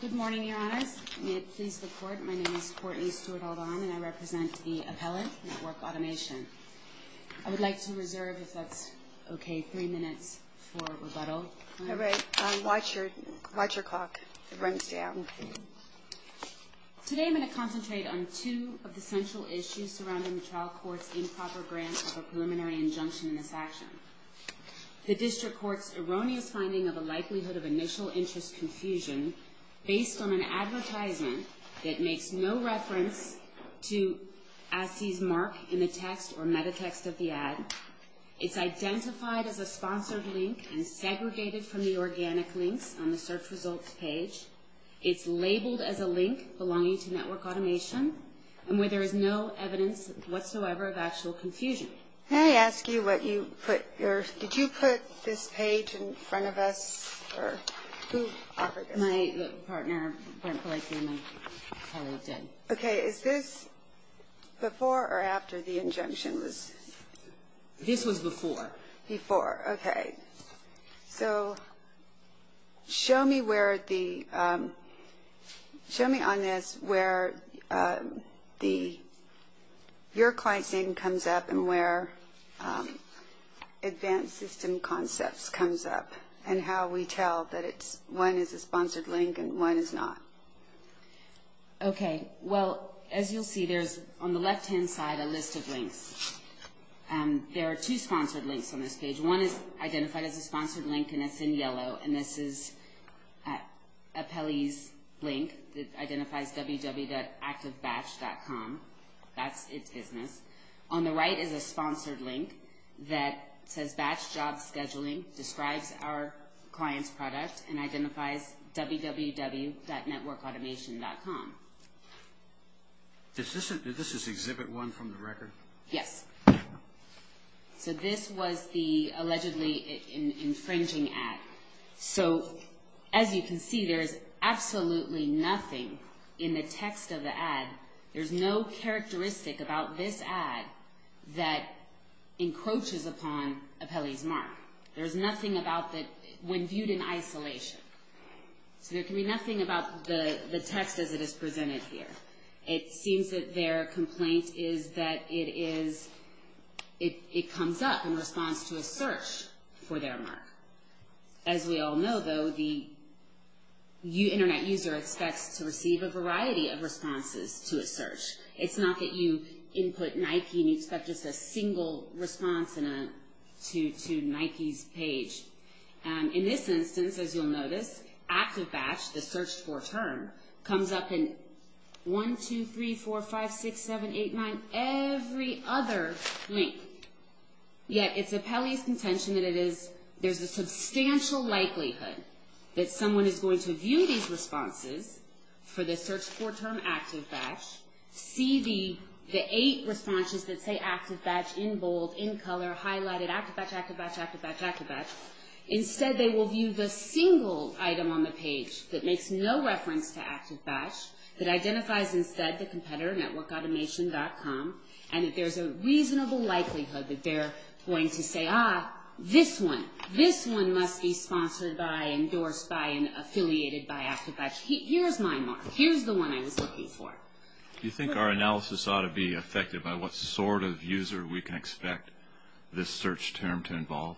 Good morning, Your Honors. May it please the Court, my name is Courtney Stewart-Aldahn, and I represent the appellate, Network Automation. I would like to reserve, if that's okay, three minutes for rebuttal. All right. Watch your clock. It runs down. Today I'm going to concentrate on two of the central issues surrounding the trial court's improper grant of a preliminary injunction in this action. The district court's erroneous finding of a likelihood of initial interest confusion based on an advertisement that makes no reference to AdSea's mark in the text or metatext of the ad. It's identified as a sponsored link and segregated from the organic links on the search results page. It's labeled as a link belonging to Network Automation, and where there is no evidence whatsoever of actual confusion. May I ask you what you put your – did you put this page in front of us, or who offered it? My partner, Brent Blakely, and my colleague did. Okay. Is this before or after the injunction was – This was before. Okay. So show me where the – show me on this where the – your client's name comes up and where advanced system concepts comes up, and how we tell that it's – one is a sponsored link and one is not. Okay. Well, as you'll see, there's on the left-hand side a list of links. There are two sponsored links on this page. One is identified as a sponsored link, and it's in yellow, and this is Apelli's link that identifies www.activebatch.com. That's its business. On the right is a sponsored link that says Batch Job Scheduling, describes our client's product, and identifies www.networkautomation.com. Is this – did this just exhibit one from the record? Yes. So this was the allegedly infringing ad. So as you can see, there's absolutely nothing in the text of the ad. There's no characteristic about this ad that encroaches upon Apelli's mark. There's nothing about the – when viewed in isolation. So there can be nothing about the text as it is presented here. It seems that their complaint is that it is – it comes up in response to a search for their mark. As we all know, though, the Internet user expects to receive a variety of responses to a search. It's not that you input Nike and you expect just a single response in a – to Nike's page. In this instance, as you'll notice, ActiveBatch, the search for term, comes up in 1, 2, 3, 4, 5, 6, 7, 8, 9, every other link. Yet it's Apelli's contention that it is – there's a substantial likelihood that someone is going to view these responses for the search for term ActiveBatch, see the eight responses that say ActiveBatch in bold, in color, highlighted, ActiveBatch, ActiveBatch, ActiveBatch, ActiveBatch. Instead, they will view the single item on the page that makes no reference to ActiveBatch, that identifies instead the competitor, networkautomation.com, and that there's a reasonable likelihood that they're going to say, ah, this one. This one must be sponsored by, endorsed by, and affiliated by ActiveBatch. Here's my mark. Here's the one I was looking for. Do you think our analysis ought to be affected by what sort of user we can expect this search term to involve?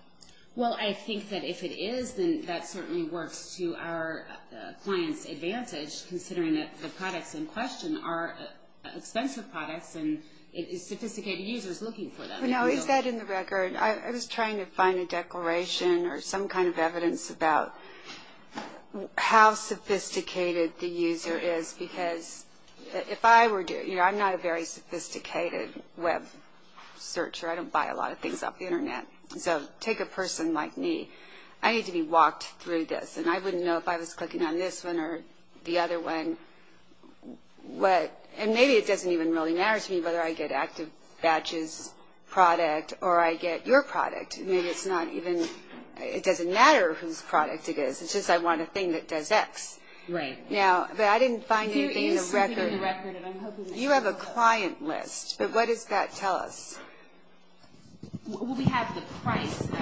Well, I think that if it is, then that certainly works to our client's advantage, considering that the products in question are expensive products and sophisticated users looking for them. No, is that in the record? I was trying to find a declaration or some kind of evidence about how sophisticated the user is, because if I were to – you know, I'm not a very sophisticated web searcher. I don't buy a lot of things off the Internet. So take a person like me. I need to be walked through this, and I wouldn't know if I was clicking on this one or the other one. And maybe it doesn't even really matter to me whether I get ActiveBatch's product or I get your product. Maybe it's not even – it doesn't matter whose product it is. It's just I want a thing that does X. Right. But I didn't find anything in the record. You have a client list, but what does that tell us? Well, we have the price of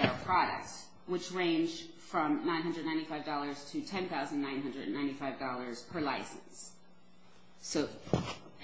our products, which range from $995 to $10,995 per license. So,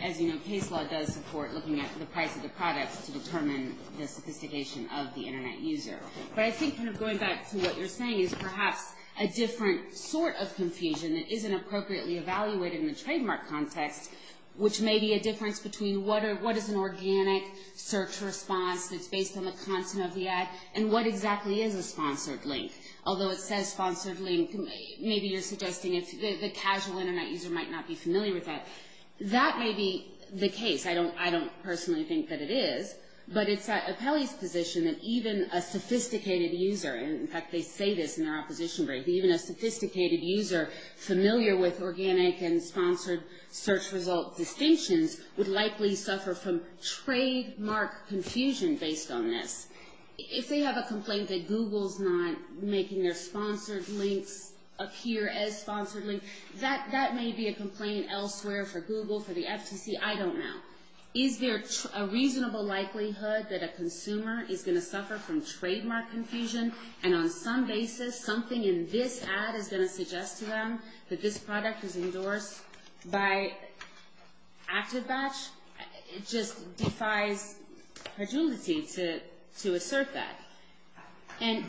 as you know, case law does support looking at the price of the products to determine the sophistication of the Internet user. But I think kind of going back to what you're saying is perhaps a different sort of confusion that isn't appropriately evaluated in the trademark context, which may be a difference between what is an organic search response that's based on the content of the ad and what exactly is a sponsored link. Although it says sponsored link, maybe you're suggesting the casual Internet user might not be familiar with that. That may be the case. I don't personally think that it is. But it's at Apelli's position that even a sophisticated user – and, in fact, they say this in their opposition brief – that even a sophisticated user familiar with organic and sponsored search result distinctions would likely suffer from trademark confusion based on this. If they have a complaint that Google's not making their sponsored links appear as sponsored links, that may be a complaint elsewhere for Google, for the FTC. I don't know. Is there a reasonable likelihood that a consumer is going to suffer from trademark confusion and on some basis something in this ad is going to suggest to them that this product is endorsed by ActiveBatch? It just defies credulity to assert that. And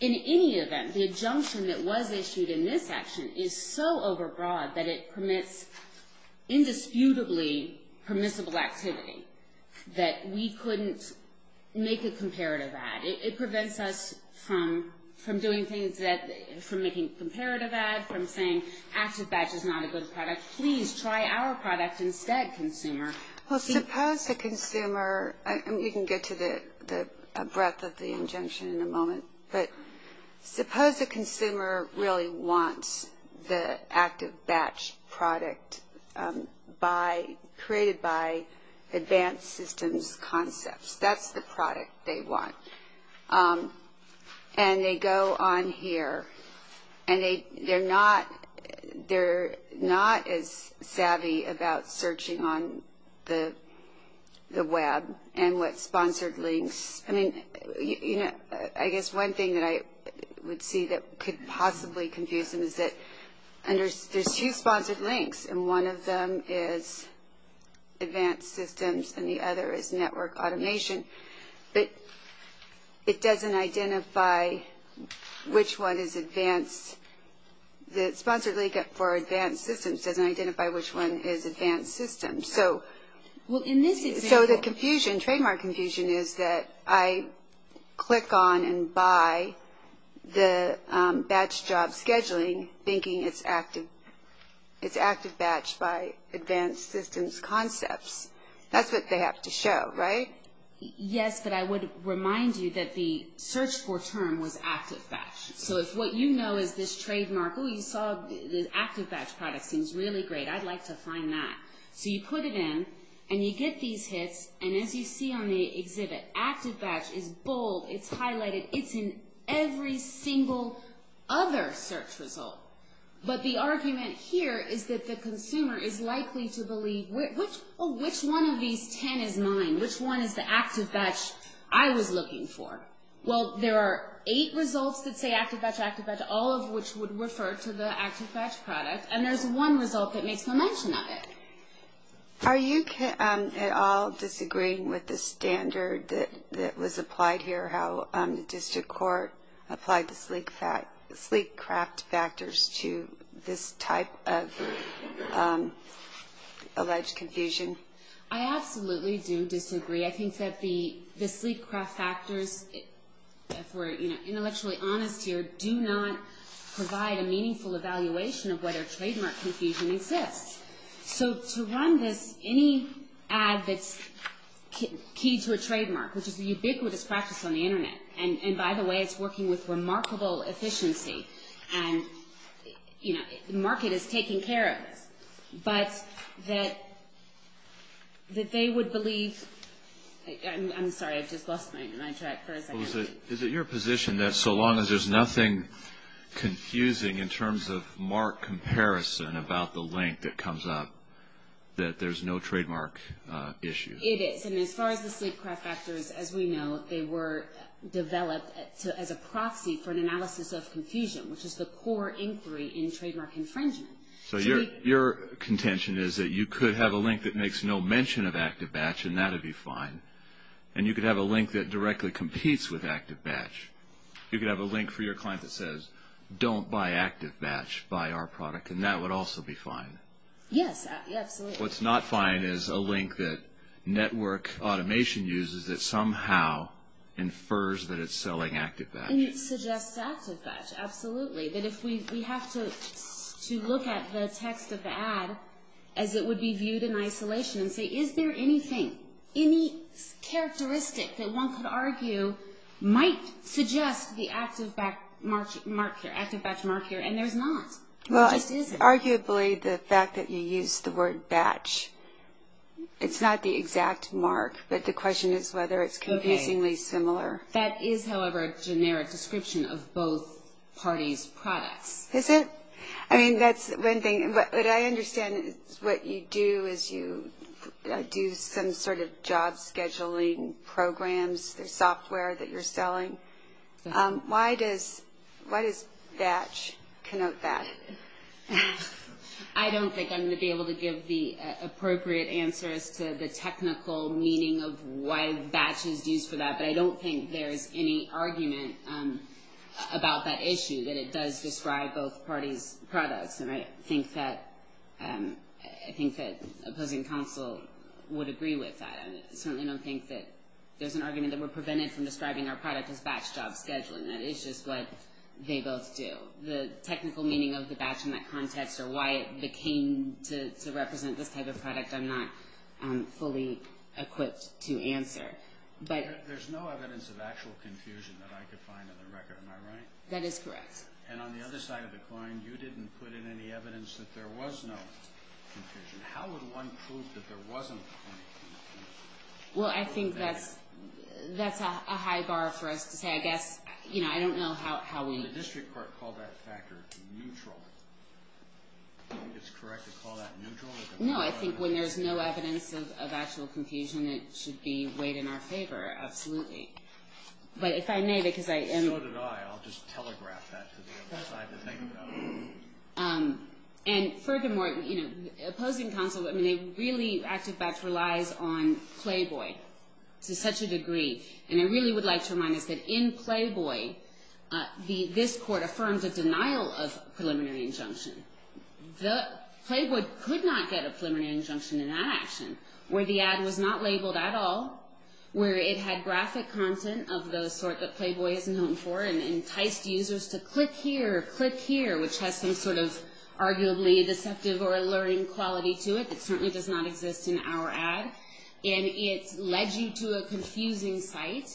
in any event, the injunction that was issued in this action is so overbroad that it permits indisputably permissible activity that we couldn't make a comparative ad. It prevents us from doing things that – from making a comparative ad, from saying ActiveBatch is not a good product. Please try our product instead, consumer. Well, suppose a consumer – you can get to the breadth of the injunction in a moment. But suppose a consumer really wants the ActiveBatch product created by advanced systems concepts. That's the product they want. And they go on here, and they're not as savvy about searching on the web and what sponsored links – I mean, I guess one thing that I would see that could possibly confuse them is that there's two sponsored links, and one of them is advanced systems, and the other is network automation. But it doesn't identify which one is advanced. The sponsored link for advanced systems doesn't identify which one is advanced systems. So the confusion, trademark confusion, is that I click on and buy the batch job scheduling thinking it's ActiveBatch by advanced systems concepts. That's what they have to show, right? Yes, but I would remind you that the search for term was ActiveBatch. So if what you know is this trademark, oh, you saw the ActiveBatch product seems really great. I'd like to find that. So you put it in, and you get these hits, and as you see on the exhibit, ActiveBatch is bold. It's highlighted. It's in every single other search result. But the argument here is that the consumer is likely to believe, oh, which one of these ten is mine? Which one is the ActiveBatch I was looking for? Well, there are eight results that say ActiveBatch, ActiveBatch, all of which would refer to the ActiveBatch product, and there's one result that makes no mention of it. Are you at all disagreeing with the standard that was applied here, how the district court applied the sleek craft factors to this type of alleged confusion? I absolutely do disagree. I think that the sleek craft factors, if we're intellectually honest here, do not provide a meaningful evaluation of whether trademark confusion exists. So to run this, any ad that's key to a trademark, which is a ubiquitous practice on the Internet, and by the way, it's working with remarkable efficiency, and, you know, the market is taking care of this, but that they would believe, I'm sorry, I just lost my track for a second. So is it your position that so long as there's nothing confusing in terms of marked comparison about the link that comes up, that there's no trademark issue? It is, and as far as the sleek craft factors, as we know, they were developed as a proxy for an analysis of confusion, which is the core inquiry in trademark infringement. So your contention is that you could have a link that makes no mention of ActiveBatch, and that would be fine, and you could have a link that directly competes with ActiveBatch. You could have a link for your client that says, don't buy ActiveBatch, buy our product, and that would also be fine. Yes, absolutely. What's not fine is a link that network automation uses that somehow infers that it's selling ActiveBatch. And it suggests ActiveBatch, absolutely, that if we have to look at the text of the ad as it would be viewed in isolation and say, is there anything, any characteristic that one could argue might suggest the ActiveBatch mark here, and there's not, there just isn't. Well, arguably, the fact that you used the word batch, it's not the exact mark, but the question is whether it's confusingly similar. That is, however, a generic description of both parties' products. Is it? I mean, that's one thing, but I understand what you do is you do some sort of job scheduling programs, the software that you're selling. Why does batch connote that? I don't think I'm going to be able to give the appropriate answer as to the technical meaning of why batch is used for that, but I don't think there's any argument about that issue, that it does describe both parties' products, and I think that opposing counsel would agree with that. I certainly don't think that there's an argument that we're prevented from describing our product as batch job scheduling. That is just what they both do. The technical meaning of the batch in that context or why it became to represent this type of product, I'm not fully equipped to answer. There's no evidence of actual confusion that I could find in the record. Am I right? That is correct. And on the other side of the coin, you didn't put in any evidence that there was no confusion. How would one prove that there wasn't any confusion? Well, I think that's a high bar for us to say, I guess, you know, I don't know how we… The district court called that factor neutral. Do you think it's correct to call that neutral? No, I think when there's no evidence of actual confusion, it should be weighed in our favor. Absolutely. But if I may, because I… So did I. I'll just telegraph that to the other side to think about it. And furthermore, you know, opposing counsel, I mean, they really, Active Batch relies on Playboy to such a degree, and I really would like to remind us that in Playboy, this court affirmed a denial of preliminary injunction. Playboy could not get a preliminary injunction in that action, where the ad was not labeled at all, where it had graphic content of the sort that Playboy isn't known for, and enticed users to click here or click here, which has some sort of arguably deceptive or alluring quality to it that certainly does not exist in our ad. And it led you to a confusing site.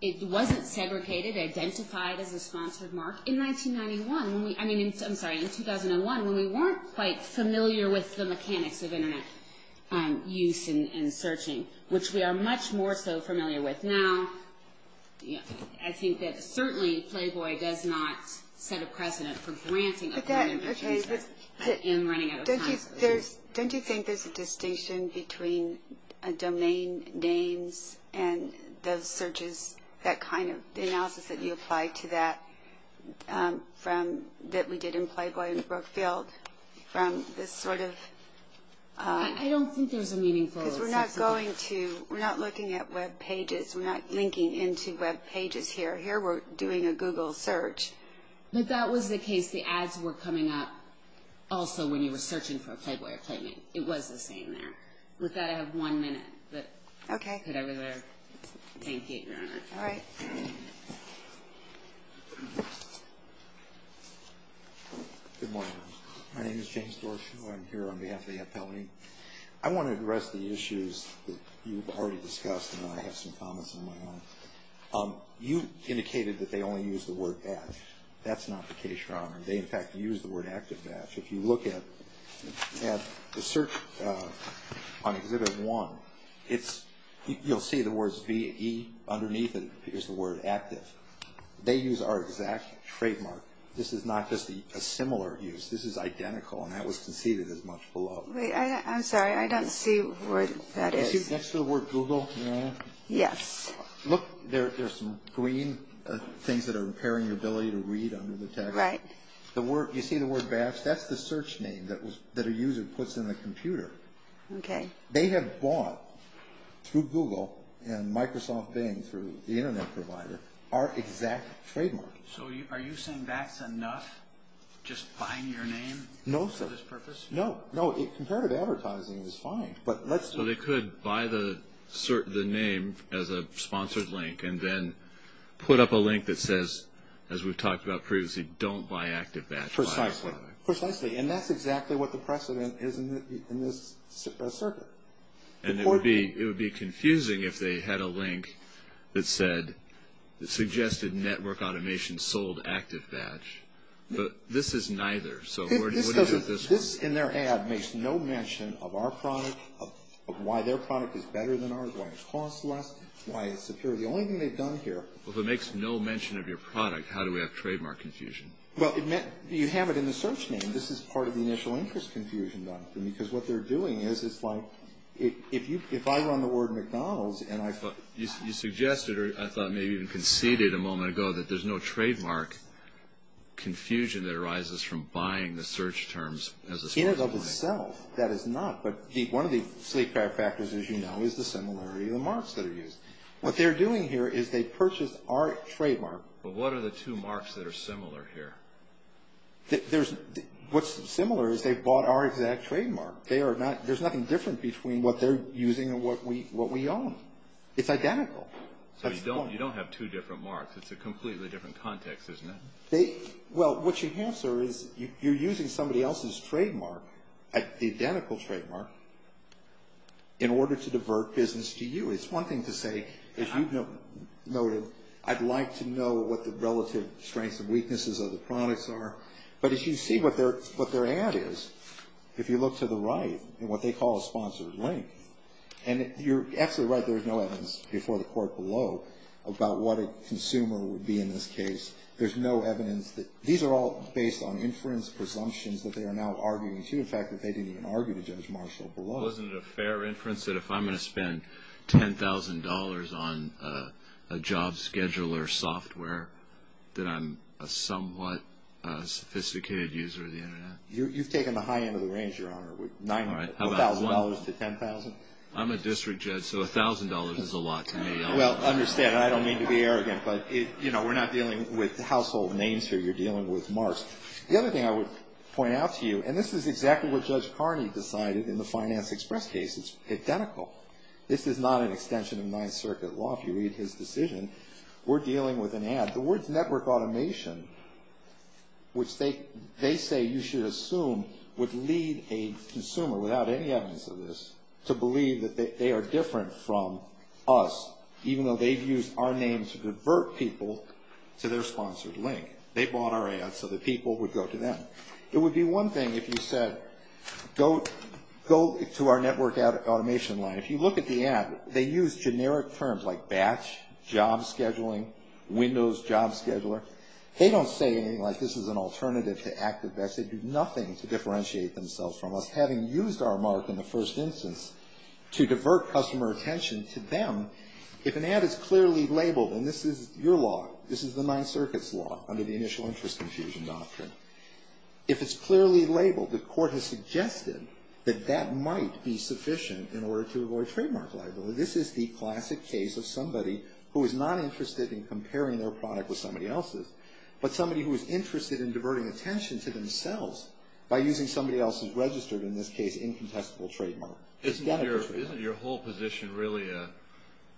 It wasn't segregated, identified as a sponsored mark. In 1991, I'm sorry, in 2001, when we weren't quite familiar with the mechanics of Internet use and searching, which we are much more so familiar with now, I think that certainly Playboy does not set a precedent for granting a preliminary injunction in running out of time. Don't you think there's a distinction between domain names and the searches, that kind of analysis that you applied to that, that we did in Playboy and Brookfield, from this sort of... I don't think there's a meaningful... Because we're not going to, we're not looking at Web pages. We're not linking into Web pages here. Here we're doing a Google search. But that was the case. The ads were coming up also when you were searching for a Playboy appointment. It was the same there. With that, I have one minute. Okay. Thank you, Your Honor. All right. Good morning. My name is James Dorshew. I'm here on behalf of the appellee. I want to address the issues that you've already discussed, and I have some comments on my own. You indicated that they only use the word batch. That's not the case, Your Honor. They, in fact, use the word active batch. If you look at the search on Exhibit 1, it's, you'll see the words V, E underneath, and here's the word active. They use our exact trademark. This is not just a similar use. This is identical, and that was conceded as much below. Wait, I'm sorry. I don't see what that is. That's the word Google, Your Honor. Yes. Look, there's some green things that are impairing your ability to read under the text. Right. You see the word batch? That's the search name that a user puts in the computer. Okay. They have bought, through Google and Microsoft Bing, through the Internet provider, our exact trademark. So are you saying that's enough, just buying your name for this purpose? No. No. Comparative advertising is fine, but let's do it. Buy the name as a sponsored link and then put up a link that says, as we've talked about previously, don't buy active batch. Precisely. Precisely, and that's exactly what the precedent is in this circuit. And it would be confusing if they had a link that said, suggested network automation sold active batch. But this is neither. This, in their ad, makes no mention of our product, of why their product is better than ours, why it costs less, why it's superior. The only thing they've done here. Well, if it makes no mention of your product, how do we have trademark confusion? Well, you have it in the search name. This is part of the initial interest confusion, because what they're doing is, it's like, if I run the word McDonald's and I thought... In and of itself, that is not. But one of the sleeper factors, as you know, is the similarity of the marks that are used. What they're doing here is they've purchased our trademark. But what are the two marks that are similar here? What's similar is they've bought our exact trademark. There's nothing different between what they're using and what we own. It's identical. So you don't have two different marks. It's a completely different context, isn't it? Well, what you have, sir, is you're using somebody else's trademark, the identical trademark, in order to divert business to you. It's one thing to say, as you noted, I'd like to know what the relative strengths and weaknesses of the products are. But as you see what their ad is, if you look to the right in what they call a sponsored link, and you're absolutely right, there's no evidence before the court below about what a consumer would be in this case. There's no evidence. These are all based on inference presumptions that they are now arguing, too. In fact, they didn't even argue to Judge Marshall below. Well, isn't it a fair inference that if I'm going to spend $10,000 on a job scheduler software, that I'm a somewhat sophisticated user of the Internet? You've taken the high end of the range, Your Honor. $1,000 to $10,000? I'm a district judge, so $1,000 is a lot to me. Well, understand, I don't mean to be arrogant, but, you know, we're not dealing with household names here. You're dealing with marks. The other thing I would point out to you, and this is exactly what Judge Carney decided in the Finance Express case. It's identical. This is not an extension of Ninth Circuit law. If you read his decision, we're dealing with an ad. The words network automation, which they say you should assume would lead a consumer, without any evidence of this, to believe that they are different from us, even though they've used our name to divert people to their sponsored link. They bought our ad so that people would go to them. It would be one thing if you said, go to our network automation line. If you look at the ad, they use generic terms like batch, job scheduling, Windows job scheduler. They don't say anything like this is an alternative to ActiveX. They do nothing to differentiate themselves from us, having used our mark in the first instance to divert customer attention to them. If an ad is clearly labeled, and this is your law, this is the Ninth Circuit's law under the initial interest infusion doctrine. If it's clearly labeled, the court has suggested that that might be sufficient in order to avoid trademark liability. This is the classic case of somebody who is not interested in comparing their product with somebody else's, but somebody who is interested in diverting attention to themselves by using somebody else's registered, in this case, incontestable trademark. Isn't your whole position really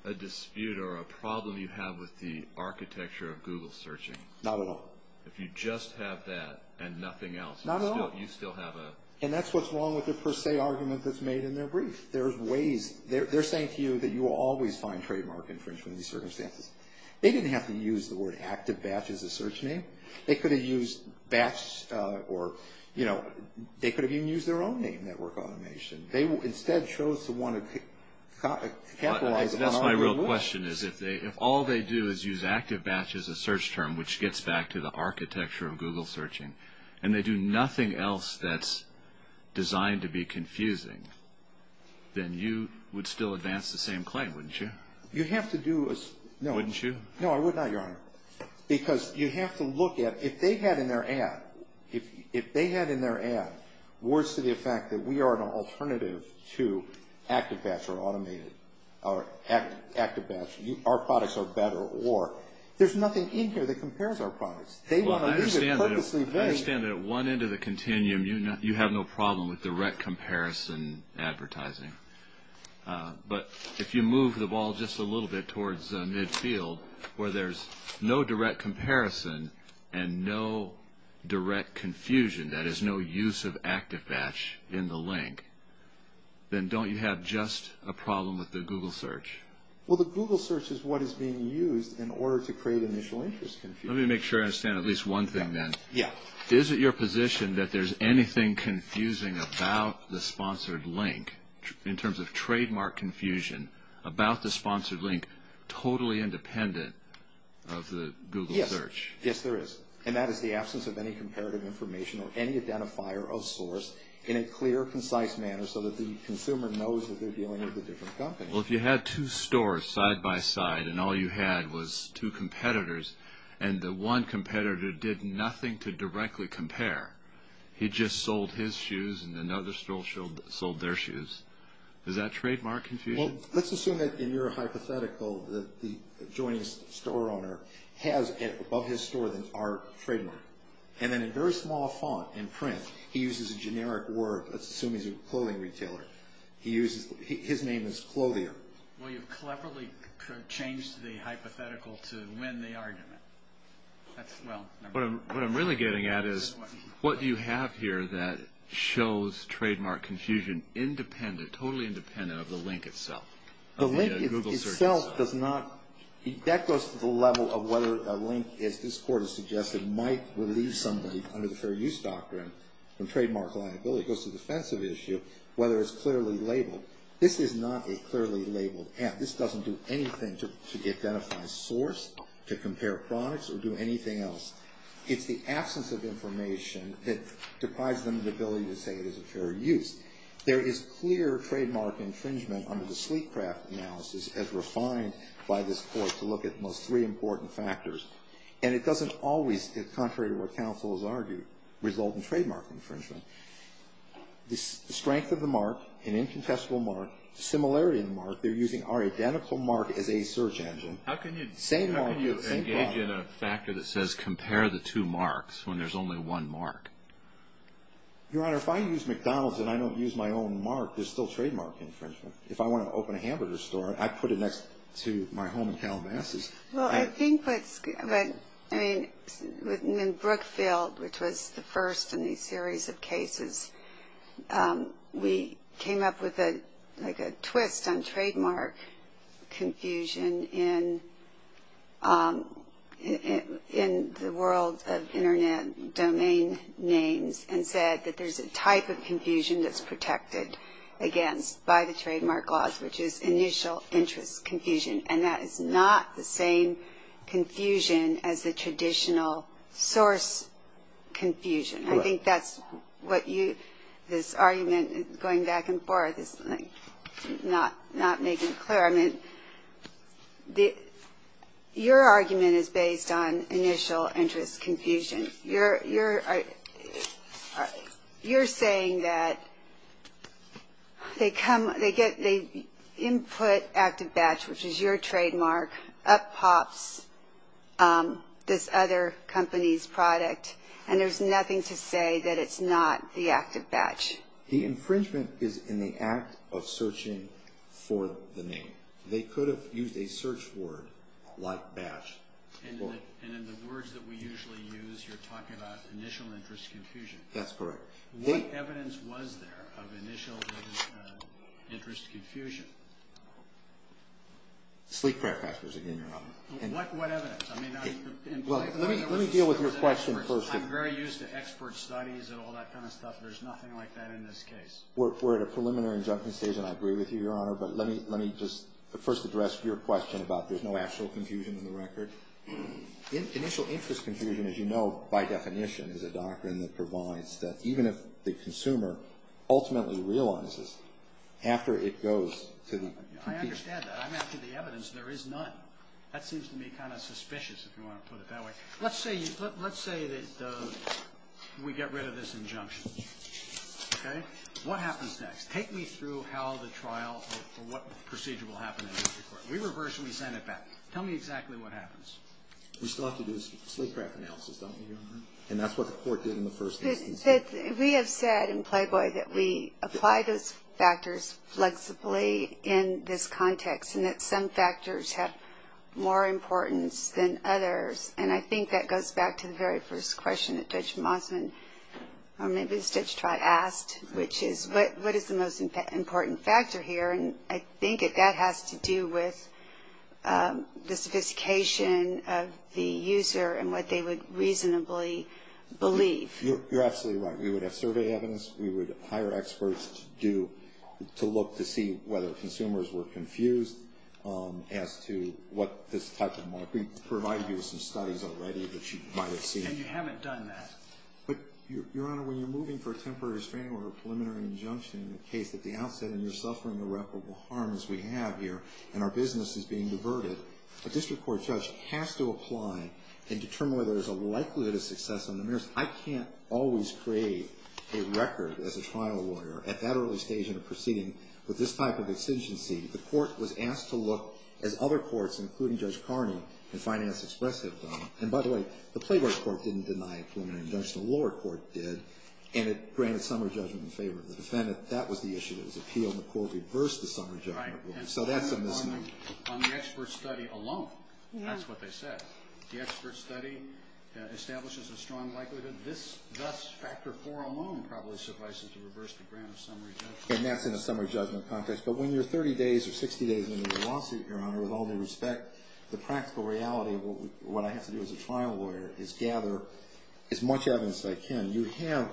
a dispute or a problem you have with the architecture of Google searching? Not at all. If you just have that and nothing else, you still have a... And that's what's wrong with the per se argument that's made in their brief. They're saying to you that you will always find trademark infringement in these circumstances. They didn't have to use the word active batch as a search name. They could have used batch or, you know, they could have even used their own name, network automation. They instead chose to want to capitalize on our rule. That's my real question, is if all they do is use active batch as a search term, which gets back to the architecture of Google searching, and they do nothing else that's designed to be confusing, then you would still advance the same claim, wouldn't you? You have to do a... Wouldn't you? No, I would not, Your Honor, because you have to look at, if they had in their ad, if they had in their ad words to the effect that we are an alternative to active batch or automated, or active batch, our products are better, or there's nothing in here that compares our products. They want to leave it purposely vague. I understand that at one end of the continuum, you have no problem with direct comparison advertising. But if you move the ball just a little bit towards midfield, where there's no direct comparison and no direct confusion, that is, no use of active batch in the link, then don't you have just a problem with the Google search? Well, the Google search is what is being used in order to create initial interest confusion. Let me make sure I understand at least one thing then. Yeah. Is it your position that there's anything confusing about the sponsored link, in terms of trademark confusion, about the sponsored link, totally independent of the Google search? Yes. Yes, there is. And that is the absence of any comparative information or any identifier of source in a clear, concise manner so that the consumer knows that they're dealing with a different company. Well, if you had two stores side by side and all you had was two competitors and the one competitor did nothing to directly compare. He just sold his shoes and another store sold their shoes. Is that trademark confusion? Well, let's assume that in your hypothetical that the adjoining store owner has above his store our trademark. And in a very small font in print, he uses a generic word. Let's assume he's a clothing retailer. His name is Clothier. Well, you've cleverly changed the hypothetical to win the argument. What I'm really getting at is what do you have here that shows trademark confusion independent, totally independent of the link itself, of the Google search? The link itself does not. That goes to the level of whether a link, as this Court has suggested, might relieve somebody under the Fair Use Doctrine from trademark liability. It goes to the offensive issue, whether it's clearly labeled. This is not a clearly labeled ad. This doesn't do anything to identify source, to compare products, or do anything else. It's the absence of information that deprives them of the ability to say it is a fair use. There is clear trademark infringement under the sleek craft analysis as refined by this Court to look at at most three important factors. And it doesn't always, contrary to what counsel has argued, result in trademark infringement. The strength of the mark, an incontestable mark, similarity of the mark, they're using our identical mark as a search engine. How can you engage in a factor that says compare the two marks when there's only one mark? Your Honor, if I use McDonald's and I don't use my own mark, there's still trademark infringement. If I want to open a hamburger store, I put it next to my home in Calabasas. Well, I think what's good, I mean, in Brookfield, which was the first in these series of cases, we came up with like a twist on trademark confusion in the world of Internet domain names and said that there's a type of confusion that's protected against by the trademark laws, which is initial interest confusion. And that is not the same confusion as the traditional source confusion. I think that's what you, this argument going back and forth is not making clear. I mean, your argument is based on initial interest confusion. You're saying that they input ActiveBatch, which is your trademark, up pops this other company's product, and there's nothing to say that it's not the ActiveBatch. The infringement is in the act of searching for the name. They could have used a search word like batch. And in the words that we usually use, you're talking about initial interest confusion. That's correct. What evidence was there of initial interest confusion? Sleek prayer pastors, again, Your Honor. What evidence? I mean, I'm very used to expert studies and all that kind of stuff. There's nothing like that in this case. We're at a preliminary injunction stage, and I agree with you, Your Honor. But let me just first address your question about there's no actual confusion in the record. Initial interest confusion, as you know, by definition, is a doctrine that provides that even if the consumer ultimately realizes, after it goes to the computer. I understand that. I'm after the evidence. There is none. That seems to me kind of suspicious, if you want to put it that way. Let's say that we get rid of this injunction. Okay? What happens next? Take me through how the trial or what procedure will happen in the court. We reverse and we send it back. Tell me exactly what happens. We still have to do a sleep prayer analysis, don't we, Your Honor? And that's what the court did in the first instance. We have said in Playboy that we apply those factors flexibly in this context and that some factors have more importance than others. And I think that goes back to the very first question that Judge Mossman or maybe Judge Trott asked, which is what is the most important factor here. And I think that that has to do with the sophistication of the user and what they would reasonably believe. You're absolutely right. We would have survey evidence. We would hire experts to look to see whether consumers were confused as to what this type of mark. We provided you with some studies already that you might have seen. And you haven't done that. But, Your Honor, when you're moving for a temporary restraining order or a preliminary injunction in the case at the outset and you're suffering irreparable harm, as we have here, and our business is being diverted, a district court judge has to apply and determine whether there's a likelihood of success on the merits. I can't always create a record as a trial lawyer at that early stage in a proceeding with this type of extinguishing. The court was asked to look, as other courts, including Judge Carney and Finance Express have done. And, by the way, the Playboy Court didn't deny a preliminary injunction. The lower court did. And it granted summary judgment in favor of the defendant. That was the issue. It was appeal, and the court reversed the summary judgment. So that's a misnomer. On the expert study alone, that's what they said. The expert study establishes a strong likelihood. Thus, factor four alone probably suffices to reverse the grant of summary judgment. And that's in a summary judgment context. But when you're 30 days or 60 days into the lawsuit, Your Honor, with all due respect, the practical reality of what I have to do as a trial lawyer is gather as much evidence as I can. You have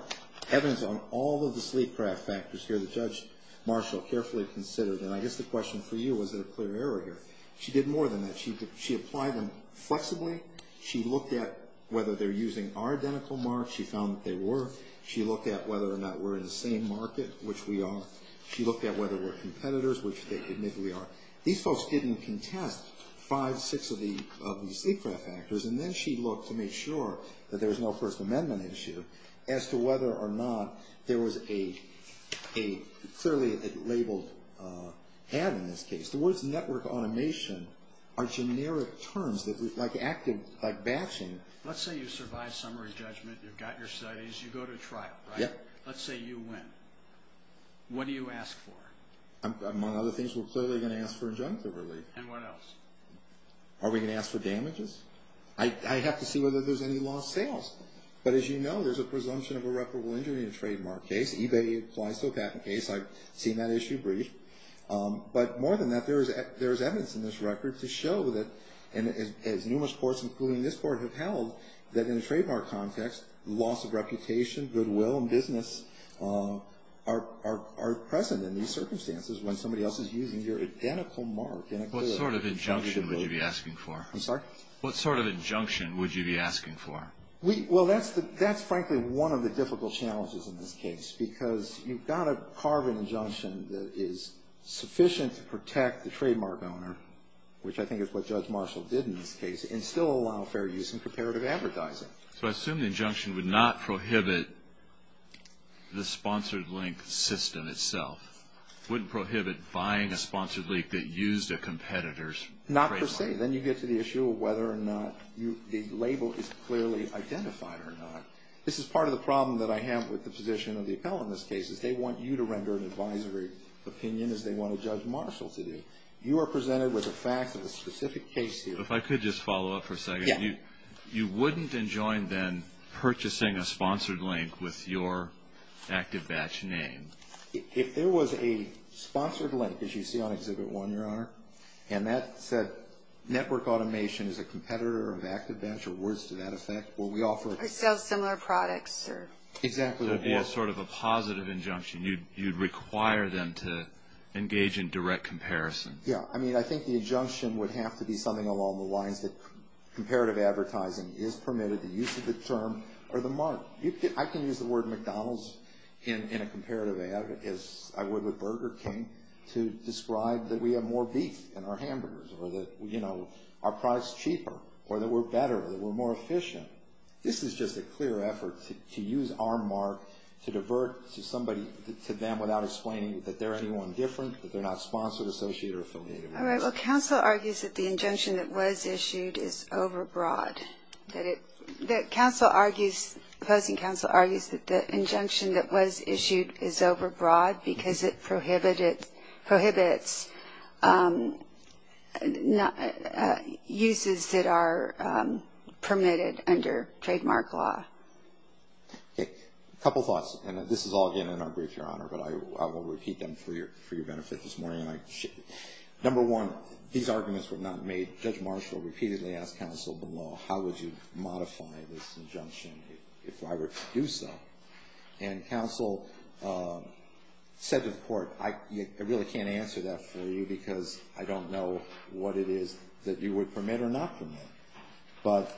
evidence on all of the sleep craft factors here that Judge Marshall carefully considered. And I guess the question for you, was there a clear error here? She did more than that. She applied them flexibly. She looked at whether they're using our identical marks. She found that they were. She looked at whether or not we're in the same market, which we are. She looked at whether we're competitors, which they admit we are. These folks didn't contest five, six of these sleep craft factors. And then she looked to make sure that there was no First Amendment issue as to whether or not there was a clearly labeled ad in this case. The words network automation are generic terms like active, like batching. Let's say you survive summary judgment. You've got your studies. You go to trial, right? Yep. Let's say you win. What do you ask for? Among other things, we're clearly going to ask for injunctive relief. And what else? Are we going to ask for damages? I'd have to see whether there's any lost sales. But as you know, there's a presumption of irreparable injury in a trademark case. eBay applies to a patent case. I've seen that issue brief. But more than that, there is evidence in this record to show that as numerous courts, including this court, have held that in a trademark context, loss of reputation, goodwill, and business are present in these circumstances when somebody else is using your identical mark in a good. What sort of injunction would you be asking for? I'm sorry? What sort of injunction would you be asking for? Well, that's frankly one of the difficult challenges in this case because you've got to carve an injunction that is sufficient to protect the trademark owner, which I think is what Judge Marshall did in this case, and still allow fair use and comparative advertising. So I assume the injunction would not prohibit the sponsored link system itself. It wouldn't prohibit buying a sponsored link that used a competitor's trademark. Not per se. Then you get to the issue of whether or not the label is clearly identified or not. This is part of the problem that I have with the position of the appellant in this case, is they want you to render an advisory opinion as they want a Judge Marshall to do. You are presented with the facts of the specific case here. If I could just follow up for a second. Yeah. You wouldn't enjoin then purchasing a sponsored link with your ActiveBatch name. If there was a sponsored link, as you see on Exhibit 1, Your Honor, and that said network automation is a competitor of ActiveBatch or words to that effect, will we offer it? I sell similar products. Exactly. That would be a sort of a positive injunction. You would require them to engage in direct comparison. Yeah. I mean, I think the injunction would have to be something along the lines that comparative advertising is permitted, the use of the term or the mark. I can use the word McDonald's in a comparative ad as I would with Burger King to describe that we have more beef in our hamburgers or that, you know, our price is cheaper or that we're better or that we're more efficient. This is just a clear effort to use our mark to divert to somebody, to them, without explaining that they're anyone different, that they're not sponsored, associated or affiliated. All right. Well, counsel argues that the injunction that was issued is overbroad. Counsel argues, opposing counsel argues that the injunction that was issued is overbroad because it prohibits uses that are permitted under trademark law. Okay. A couple thoughts, and this is all again in our brief, Your Honor, but I will repeat them for your benefit this morning. Number one, these arguments were not made. Judge Marshall repeatedly asked counsel below, how would you modify this injunction if I were to do so? And counsel said to the court, I really can't answer that for you because I don't know what it is that you would permit or not permit. But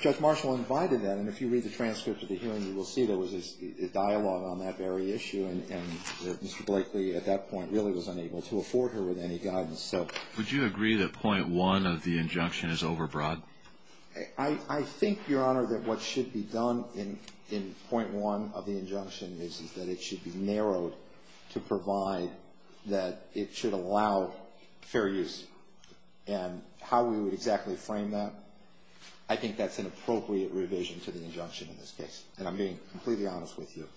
Judge Marshall invited that, and if you read the transcript of the hearing, you will see there was a dialogue on that very issue, and Mr. Blakely at that point really was unable to afford her with any guidance. So. Would you agree that point one of the injunction is overbroad? I think, Your Honor, that what should be done in point one of the injunction is that it should be narrowed to provide that it should allow fair use. And how we would exactly frame that, I think that's an appropriate revision to the injunction in this case. And I'm being completely honest with you.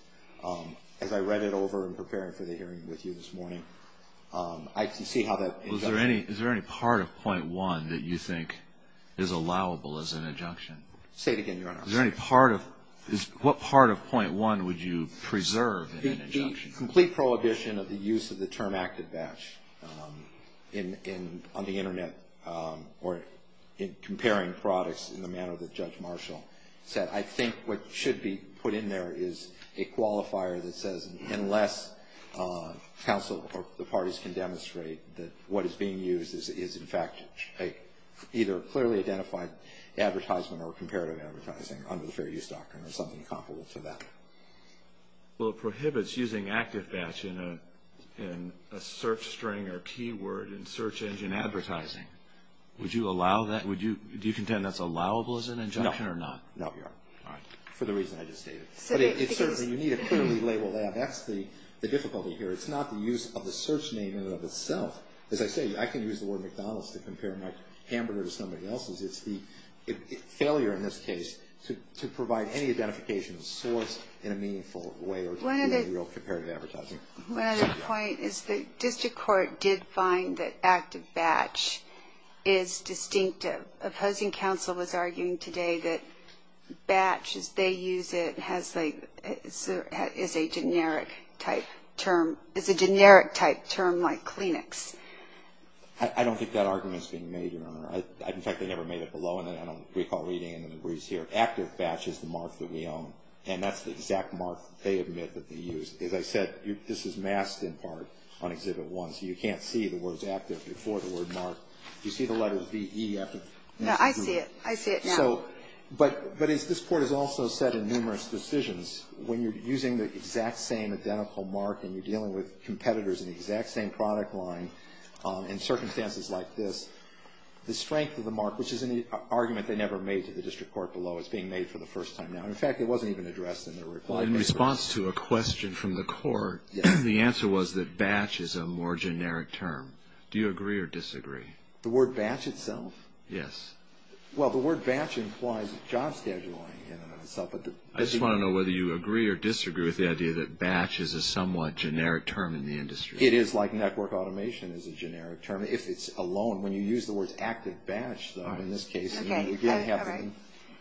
As I read it over in preparing for the hearing with you this morning, I can see how that is. Well, is there any part of point one that you think is allowable as an injunction? Say it again, Your Honor. What part of point one would you preserve in an injunction? The complete prohibition of the use of the term active batch on the Internet or in comparing products in the manner that Judge Marshall said. I think what should be put in there is a qualifier that says, unless counsel or the parties can demonstrate that what is being used is, in fact, either clearly identified advertisement or comparative advertising under the fair use doctrine or something comparable to that. Well, it prohibits using active batch in a search string or keyword in search engine advertising. Would you allow that? Do you contend that's allowable as an injunction or not? No. No, Your Honor. All right. For the reason I just stated. You need to clearly label that. That's the difficulty here. It's not the use of the search name in and of itself. As I say, I can use the word McDonald's to compare my hamburger to somebody else's. It's the failure in this case to provide any identification of source in a meaningful way or to do real comparative advertising. One other point is the district court did find that active batch is distinctive. The opposing counsel was arguing today that batch, as they use it, is a generic-type term like Kleenex. I don't think that argument is being made, Your Honor. In fact, they never made it below, and I don't recall reading any of the words here. Active batch is the morph that we own, and that's the exact morph they admit that they use. As I said, this is masked in part on Exhibit 1, so you can't see the words active before the word morph. You see the letter VE after the next group? No, I see it. I see it now. So, but as this Court has also said in numerous decisions, when you're using the exact same identical mark and you're dealing with competitors in the exact same product line in circumstances like this, the strength of the mark, which is an argument they never made to the district court below, is being made for the first time now. In fact, it wasn't even addressed in their reply. In response to a question from the Court, the answer was that batch is a more generic term. Do you agree or disagree? The word batch itself? Yes. Well, the word batch implies job scheduling in and of itself. I just want to know whether you agree or disagree with the idea that batch is a somewhat generic term in the industry. It is like network automation is a generic term, if it's alone. When you use the words active batch, though, in this case, you're going to have to All right.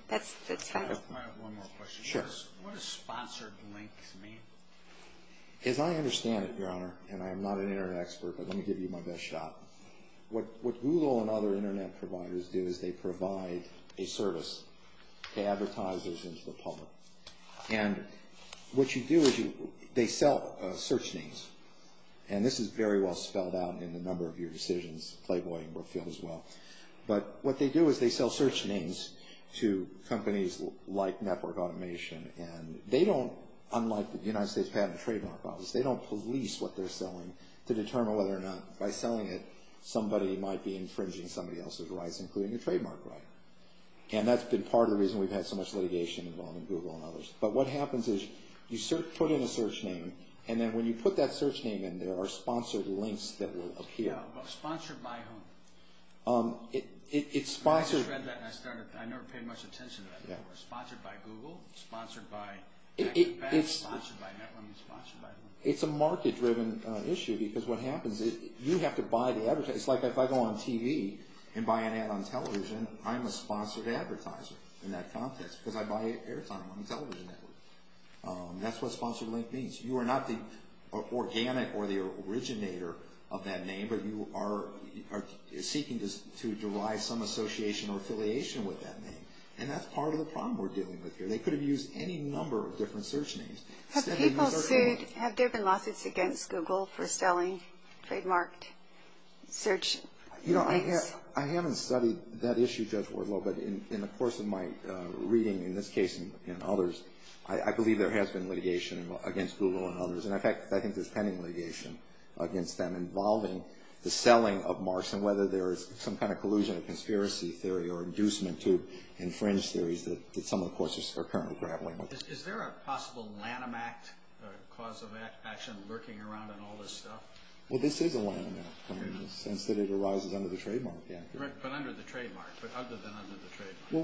That's fine. I have one more question. Sure. What does sponsored links mean? As I understand it, Your Honor, and I'm not an Internet expert, but let me give you my best shot. What Google and other Internet providers do is they provide a service to advertisers and to the public. And what you do is they sell search names. And this is very well spelled out in the number of your decisions, Clayboy and Brookfield as well. But what they do is they sell search names to companies like network automation. And they don't, unlike the United States Patent and Trademark Office, they don't police what they're selling to determine whether or not, by selling it, somebody might be infringing somebody else's rights, including a trademark right. And that's been part of the reason we've had so much litigation involving Google and others. But what happens is you put in a search name, and then when you put that search name in, there are sponsored links that will appear. Sponsored by whom? It's sponsored. I just read that and I started, I never paid much attention to that. Sponsored by Google? Sponsored by? It's a market-driven issue because what happens is you have to buy the advertising. It's like if I go on TV and buy an ad on television, I'm a sponsored advertiser in that context because I buy airtime on the television network. That's what sponsored link means. You are not the organic or the originator of that name, but you are seeking to derive some association or affiliation with that name. And that's part of the problem we're dealing with here. They could have used any number of different search names. Have people sued, have there been lawsuits against Google for selling trademarked search links? I haven't studied that issue, Judge Wardlow, but in the course of my reading, in this case and others, I believe there has been litigation against Google and others. In fact, I think there's pending litigation against them involving the selling of marks and whether there is some kind of collusion or conspiracy theory or inducement to infringe theories that some of the courts are currently grappling with. Is there a possible Lanham Act cause of action lurking around in all this stuff? Well, this is a Lanham Act in the sense that it arises under the trademark. But under the trademark, but other than under the trademark. Well,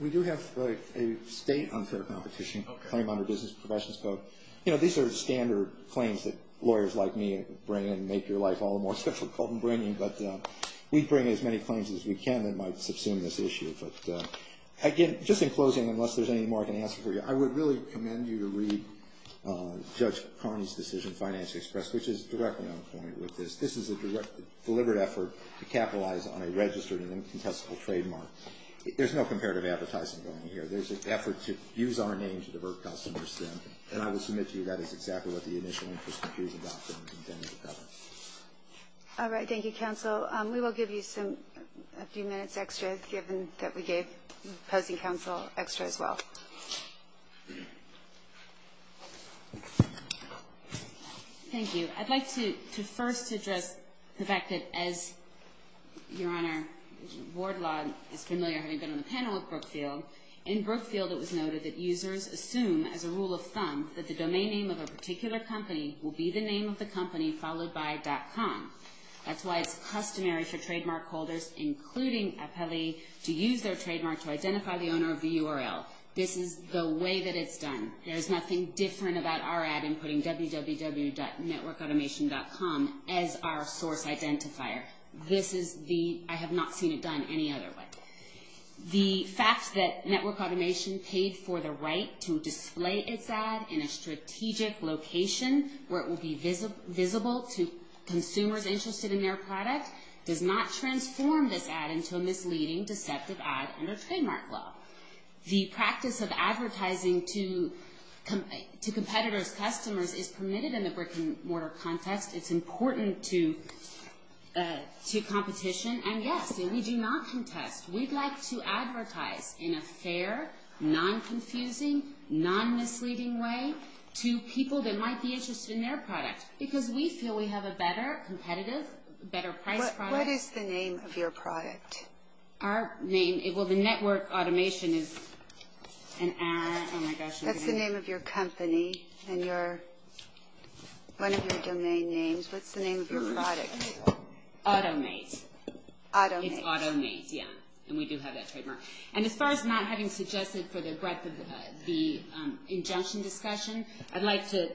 we do have a state unfair competition claim under Business Professions Code. These are standard claims that lawyers like me bring and make your life all the more difficult in bringing, but we bring as many claims as we can that might subsume this issue. But again, just in closing, unless there's any more I can answer for you, I would really commend you to read Judge Carney's decision, Finance Express, which is directly on point with this. This is a deliberate effort to capitalize on a registered and incontestable trademark. There's no comparative advertising going here. There's an effort to use our name to divert customers. And I will submit to you that is exactly what the initial interest confusion doctrine intended to cover. All right. Thank you, counsel. We will give you a few minutes extra, given that we gave opposing counsel extra as well. Thank you. I'd like to first address the fact that, as Your Honor, Wardlaw is familiar having been on the panel with Brookfield, in Brookfield it was noted that users assume, as a rule of thumb, that the domain name of a particular company will be the name of the company followed by .com. That's why it's customary for trademark holders, including Apelli, to use their trademark to identify the owner of the URL. This is the way that it's done. There's nothing different about our ad inputting www.networkautomation.com as our source identifier. This is the, I have not seen it done any other way. The fact that Network Automation paid for the right to display its ad in a strategic location, where it will be visible to consumers interested in their product, does not transform this ad into a misleading, deceptive ad under trademark law. The practice of advertising to competitors' customers is permitted in the brick-and-mortar context. It's important to competition. And yes, we do not contest. We'd like to advertise in a fair, non-confusing, non-misleading way to people that might be interested in their product, because we feel we have a better, competitive, better-priced product. What is the name of your product? Our name, well, the Network Automation is an ad, oh my gosh. That's the name of your company and one of your domain names. What's the name of your product? Automate. Automate. It's Automate, yeah. And we do have that trademark. And as far as not having suggested for the breadth of the injunction discussion, I'd like to,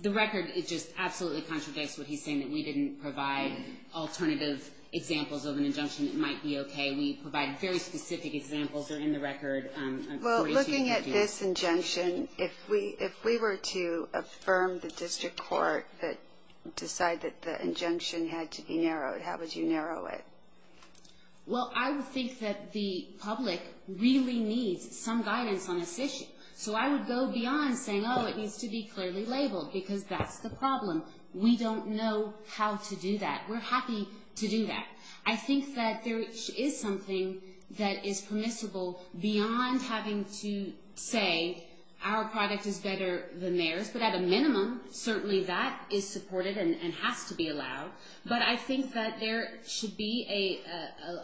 the record, it just absolutely contradicts what he's saying, that we didn't provide alternative examples of an injunction that might be okay. We provided very specific examples that are in the record. Well, looking at this injunction, if we were to affirm the district court that decided that the injunction had to be narrowed, how would you narrow it? Well, I would think that the public really needs some guidance on this issue. So I would go beyond saying, oh, it needs to be clearly labeled, because that's the problem. We don't know how to do that. We're happy to do that. I think that there is something that is permissible beyond having to say our product is better than theirs. But at a minimum, certainly that is supported and has to be allowed. But I think that there should be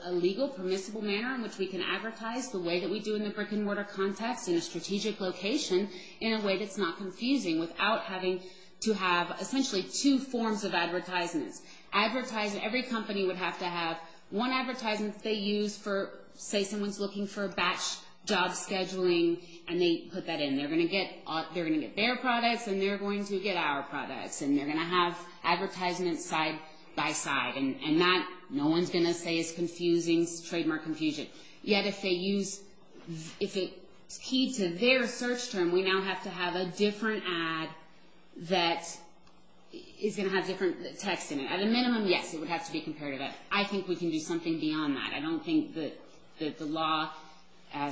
a legal, permissible manner in which we can advertise the way that we do in the brick-and-mortar context in a strategic location in a way that's not confusing, without having to have essentially two forms of advertisements. Every company would have to have one advertisement they use for, say, someone's looking for a batch job scheduling, and they put that in. They're going to get their products, and they're going to get our products. And they're going to have advertisements side by side. And that, no one's going to say, is confusing, is trademark confusion. Yet if they use, if it's key to their search term, we now have to have a different ad that is going to have different text in it. At a minimum, yes, it would have to be compared to that. I think we can do something beyond that. I don't think that the law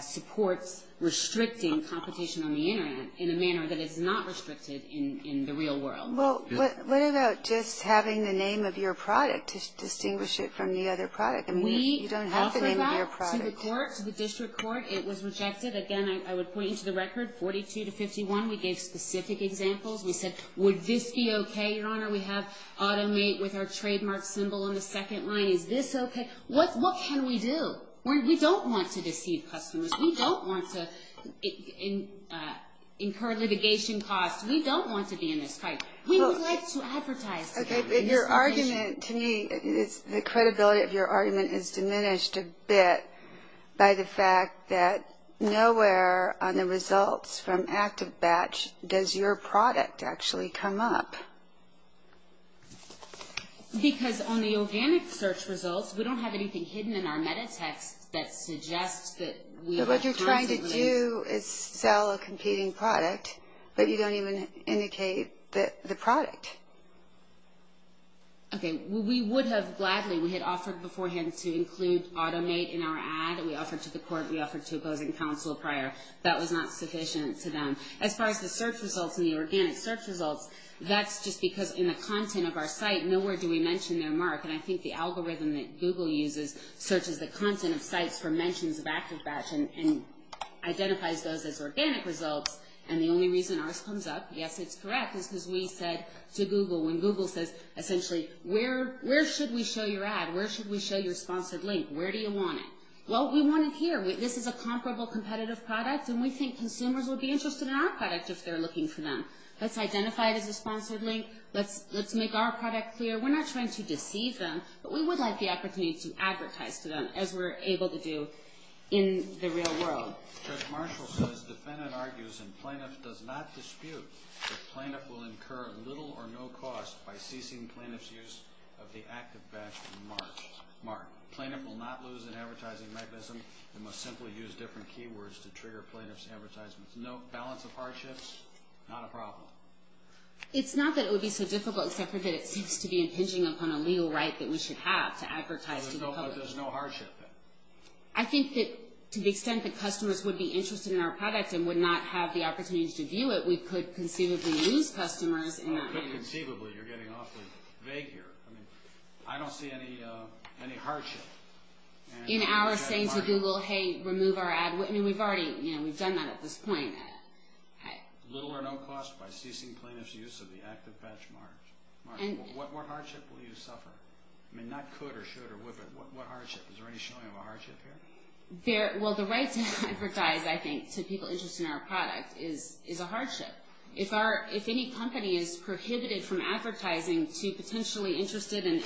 supports restricting competition on the Internet in a manner that is not restricted in the real world. Well, what about just having the name of your product to distinguish it from the other product? You don't have the name of your product. We offered that to the court, to the district court. It was rejected. Again, I would point you to the record, 42 to 51. We gave specific examples. We said, would this be okay, Your Honor? We have automate with our trademark symbol on the second line. Is this okay? What can we do? We don't want to deceive customers. We don't want to incur litigation costs. We don't want to be in this fight. We would like to advertise. Okay, but your argument to me is the credibility of your argument is diminished a bit by the fact that nowhere on the results from ActiveBatch does your product actually come up. Because on the organic search results, we don't have anything hidden in our metatext that suggests that we are competing. What you do is sell a competing product, but you don't even indicate the product. Okay, we would have gladly, we had offered beforehand to include automate in our ad. We offered to the court. We offered to opposing counsel prior. That was not sufficient to them. As far as the search results and the organic search results, that's just because in the content of our site, nowhere do we mention their mark. And I think the algorithm that Google uses searches the content of sites for mentions of ActiveBatch and identifies those as organic results, and the only reason ours comes up, yes, it's correct, is because we said to Google, when Google says, essentially, where should we show your ad? Where should we show your sponsored link? Where do you want it? Well, we want it here. This is a comparable competitive product, and we think consumers will be interested in our product if they're looking for them. Let's identify it as a sponsored link. Let's make our product clear. We're not trying to deceive them, but we would like the opportunity to advertise to them, as we're able to do in the real world. Judge Marshall says defendant argues and plaintiff does not dispute that plaintiff will incur little or no cost by ceasing plaintiff's use of the ActiveBatch mark. Plaintiff will not lose an advertising mechanism and must simply use different keywords to trigger plaintiff's advertisements. No balance of hardships, not a problem. It's not that it would be so difficult, except for that it seems to be impinging upon a legal right that we should have to advertise to the public. So there's no hardship then? I think that to the extent that customers would be interested in our product and would not have the opportunity to view it, we could conceivably lose customers. Conceivably, you're getting awfully vague here. I don't see any hardship. In our saying to Google, hey, remove our ad, we've already done that at this point. Little or no cost by ceasing plaintiff's use of the ActiveBatch mark. What hardship will you suffer? I mean, not could or should or would, but what hardship? Is there any showing of a hardship here? Well, the right to advertise, I think, to people interested in our product is a hardship. If any company is prohibited from advertising to potentially interested in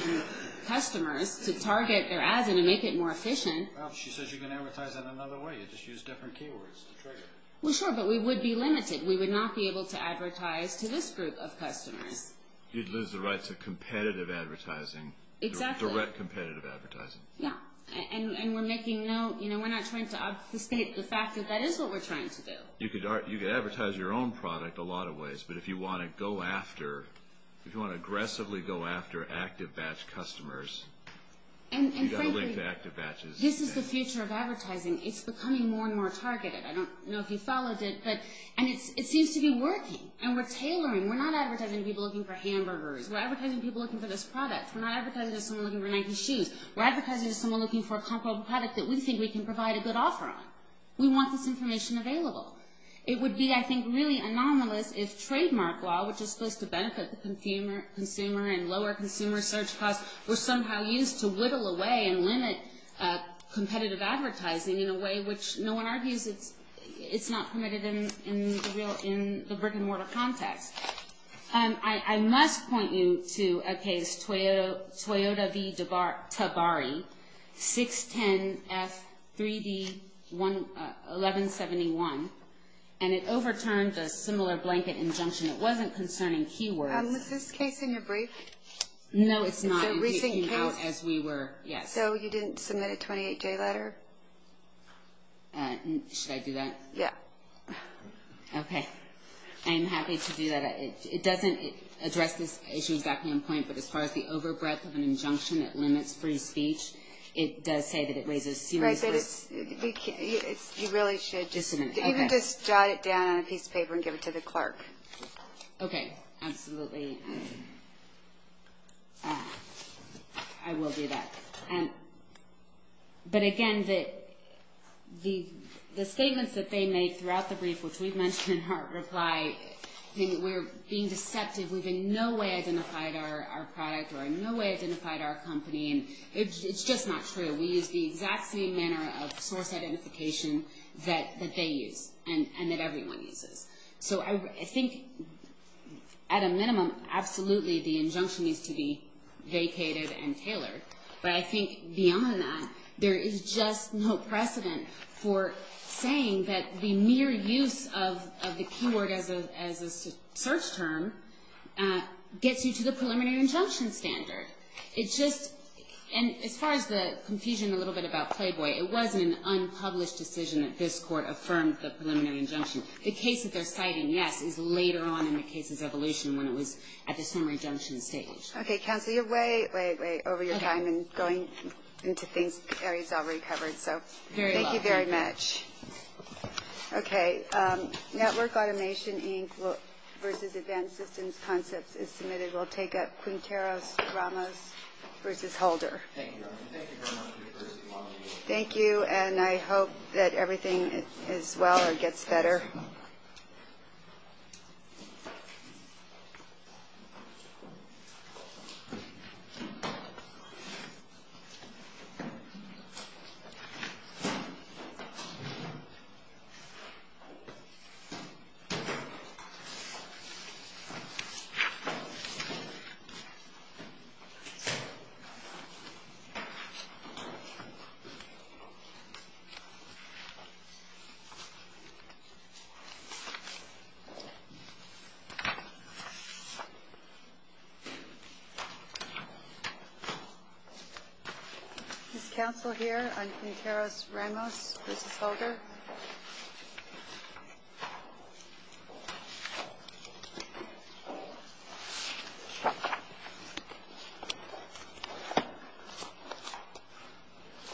customers to target their ads and to make it more efficient. Well, she says you can advertise in another way. You just use different keywords to trigger. Well, sure, but we would be limited. We would not be able to advertise to this group of customers. You'd lose the rights of competitive advertising, direct competitive advertising. Yeah, and we're not trying to obfuscate the fact that that is what we're trying to do. You could advertise your own product a lot of ways, but if you want to aggressively go after ActiveBatch customers, you've got to link to ActiveBatch. This is the future of advertising. It's becoming more and more targeted. I don't know if you followed it, but it seems to be working, and we're tailoring. We're not advertising to people looking for hamburgers. We're advertising to people looking for this product. We're not advertising to someone looking for Nike shoes. We're advertising to someone looking for a comparable product that we think we can provide a good offer on. We want this information available. It would be, I think, really anomalous if trademark law, which is supposed to benefit the consumer and lower consumer search costs, were somehow used to whittle away and limit competitive advertising in a way which no one argues it's not permitted in the brick-and-mortar context. I must point you to a case, Toyota v. Tabari, 610F3D1171, and it overturned a similar blanket injunction. It wasn't concerning keywords. Was this case in your brief? No, it's not. Is it a recent case? As we were, yes. So you didn't submit a 28-J letter? Should I do that? Yeah. Okay. I'm happy to do that. It doesn't address this issue exactly on point, but as far as the overbreadth of an injunction that limits free speech, it does say that it raises serious risks. You really should just jot it down on a piece of paper and give it to the clerk. Okay, absolutely. I will do that. But, again, the statements that they made throughout the brief, which we've mentioned in our reply, we're being deceptive. We've in no way identified our product or in no way identified our company, and it's just not true. We use the exact same manner of source identification that they use and that everyone uses. So I think at a minimum, absolutely, the injunction needs to be vacated and tailored. But I think beyond that, there is just no precedent for saying that the mere use of the keyword as a search term gets you to the preliminary injunction standard. It's just as far as the confusion a little bit about Playboy, it was an unpublished decision that this Court affirmed the preliminary injunction. The case that they're citing, yes, is later on in the case's evolution when it was at the summary injunction stage. Okay, counsel, you're way, way, way over your time in going into areas already covered. Thank you very much. Okay, Network Automation Inc. versus Advanced Systems Concepts is submitted. We'll take up Quinteros-Ramos versus Holder. Thank you very much. Thank you, and I hope that everything is well or gets better. Is counsel here on Quinteros-Ramos versus Holder? Thank you.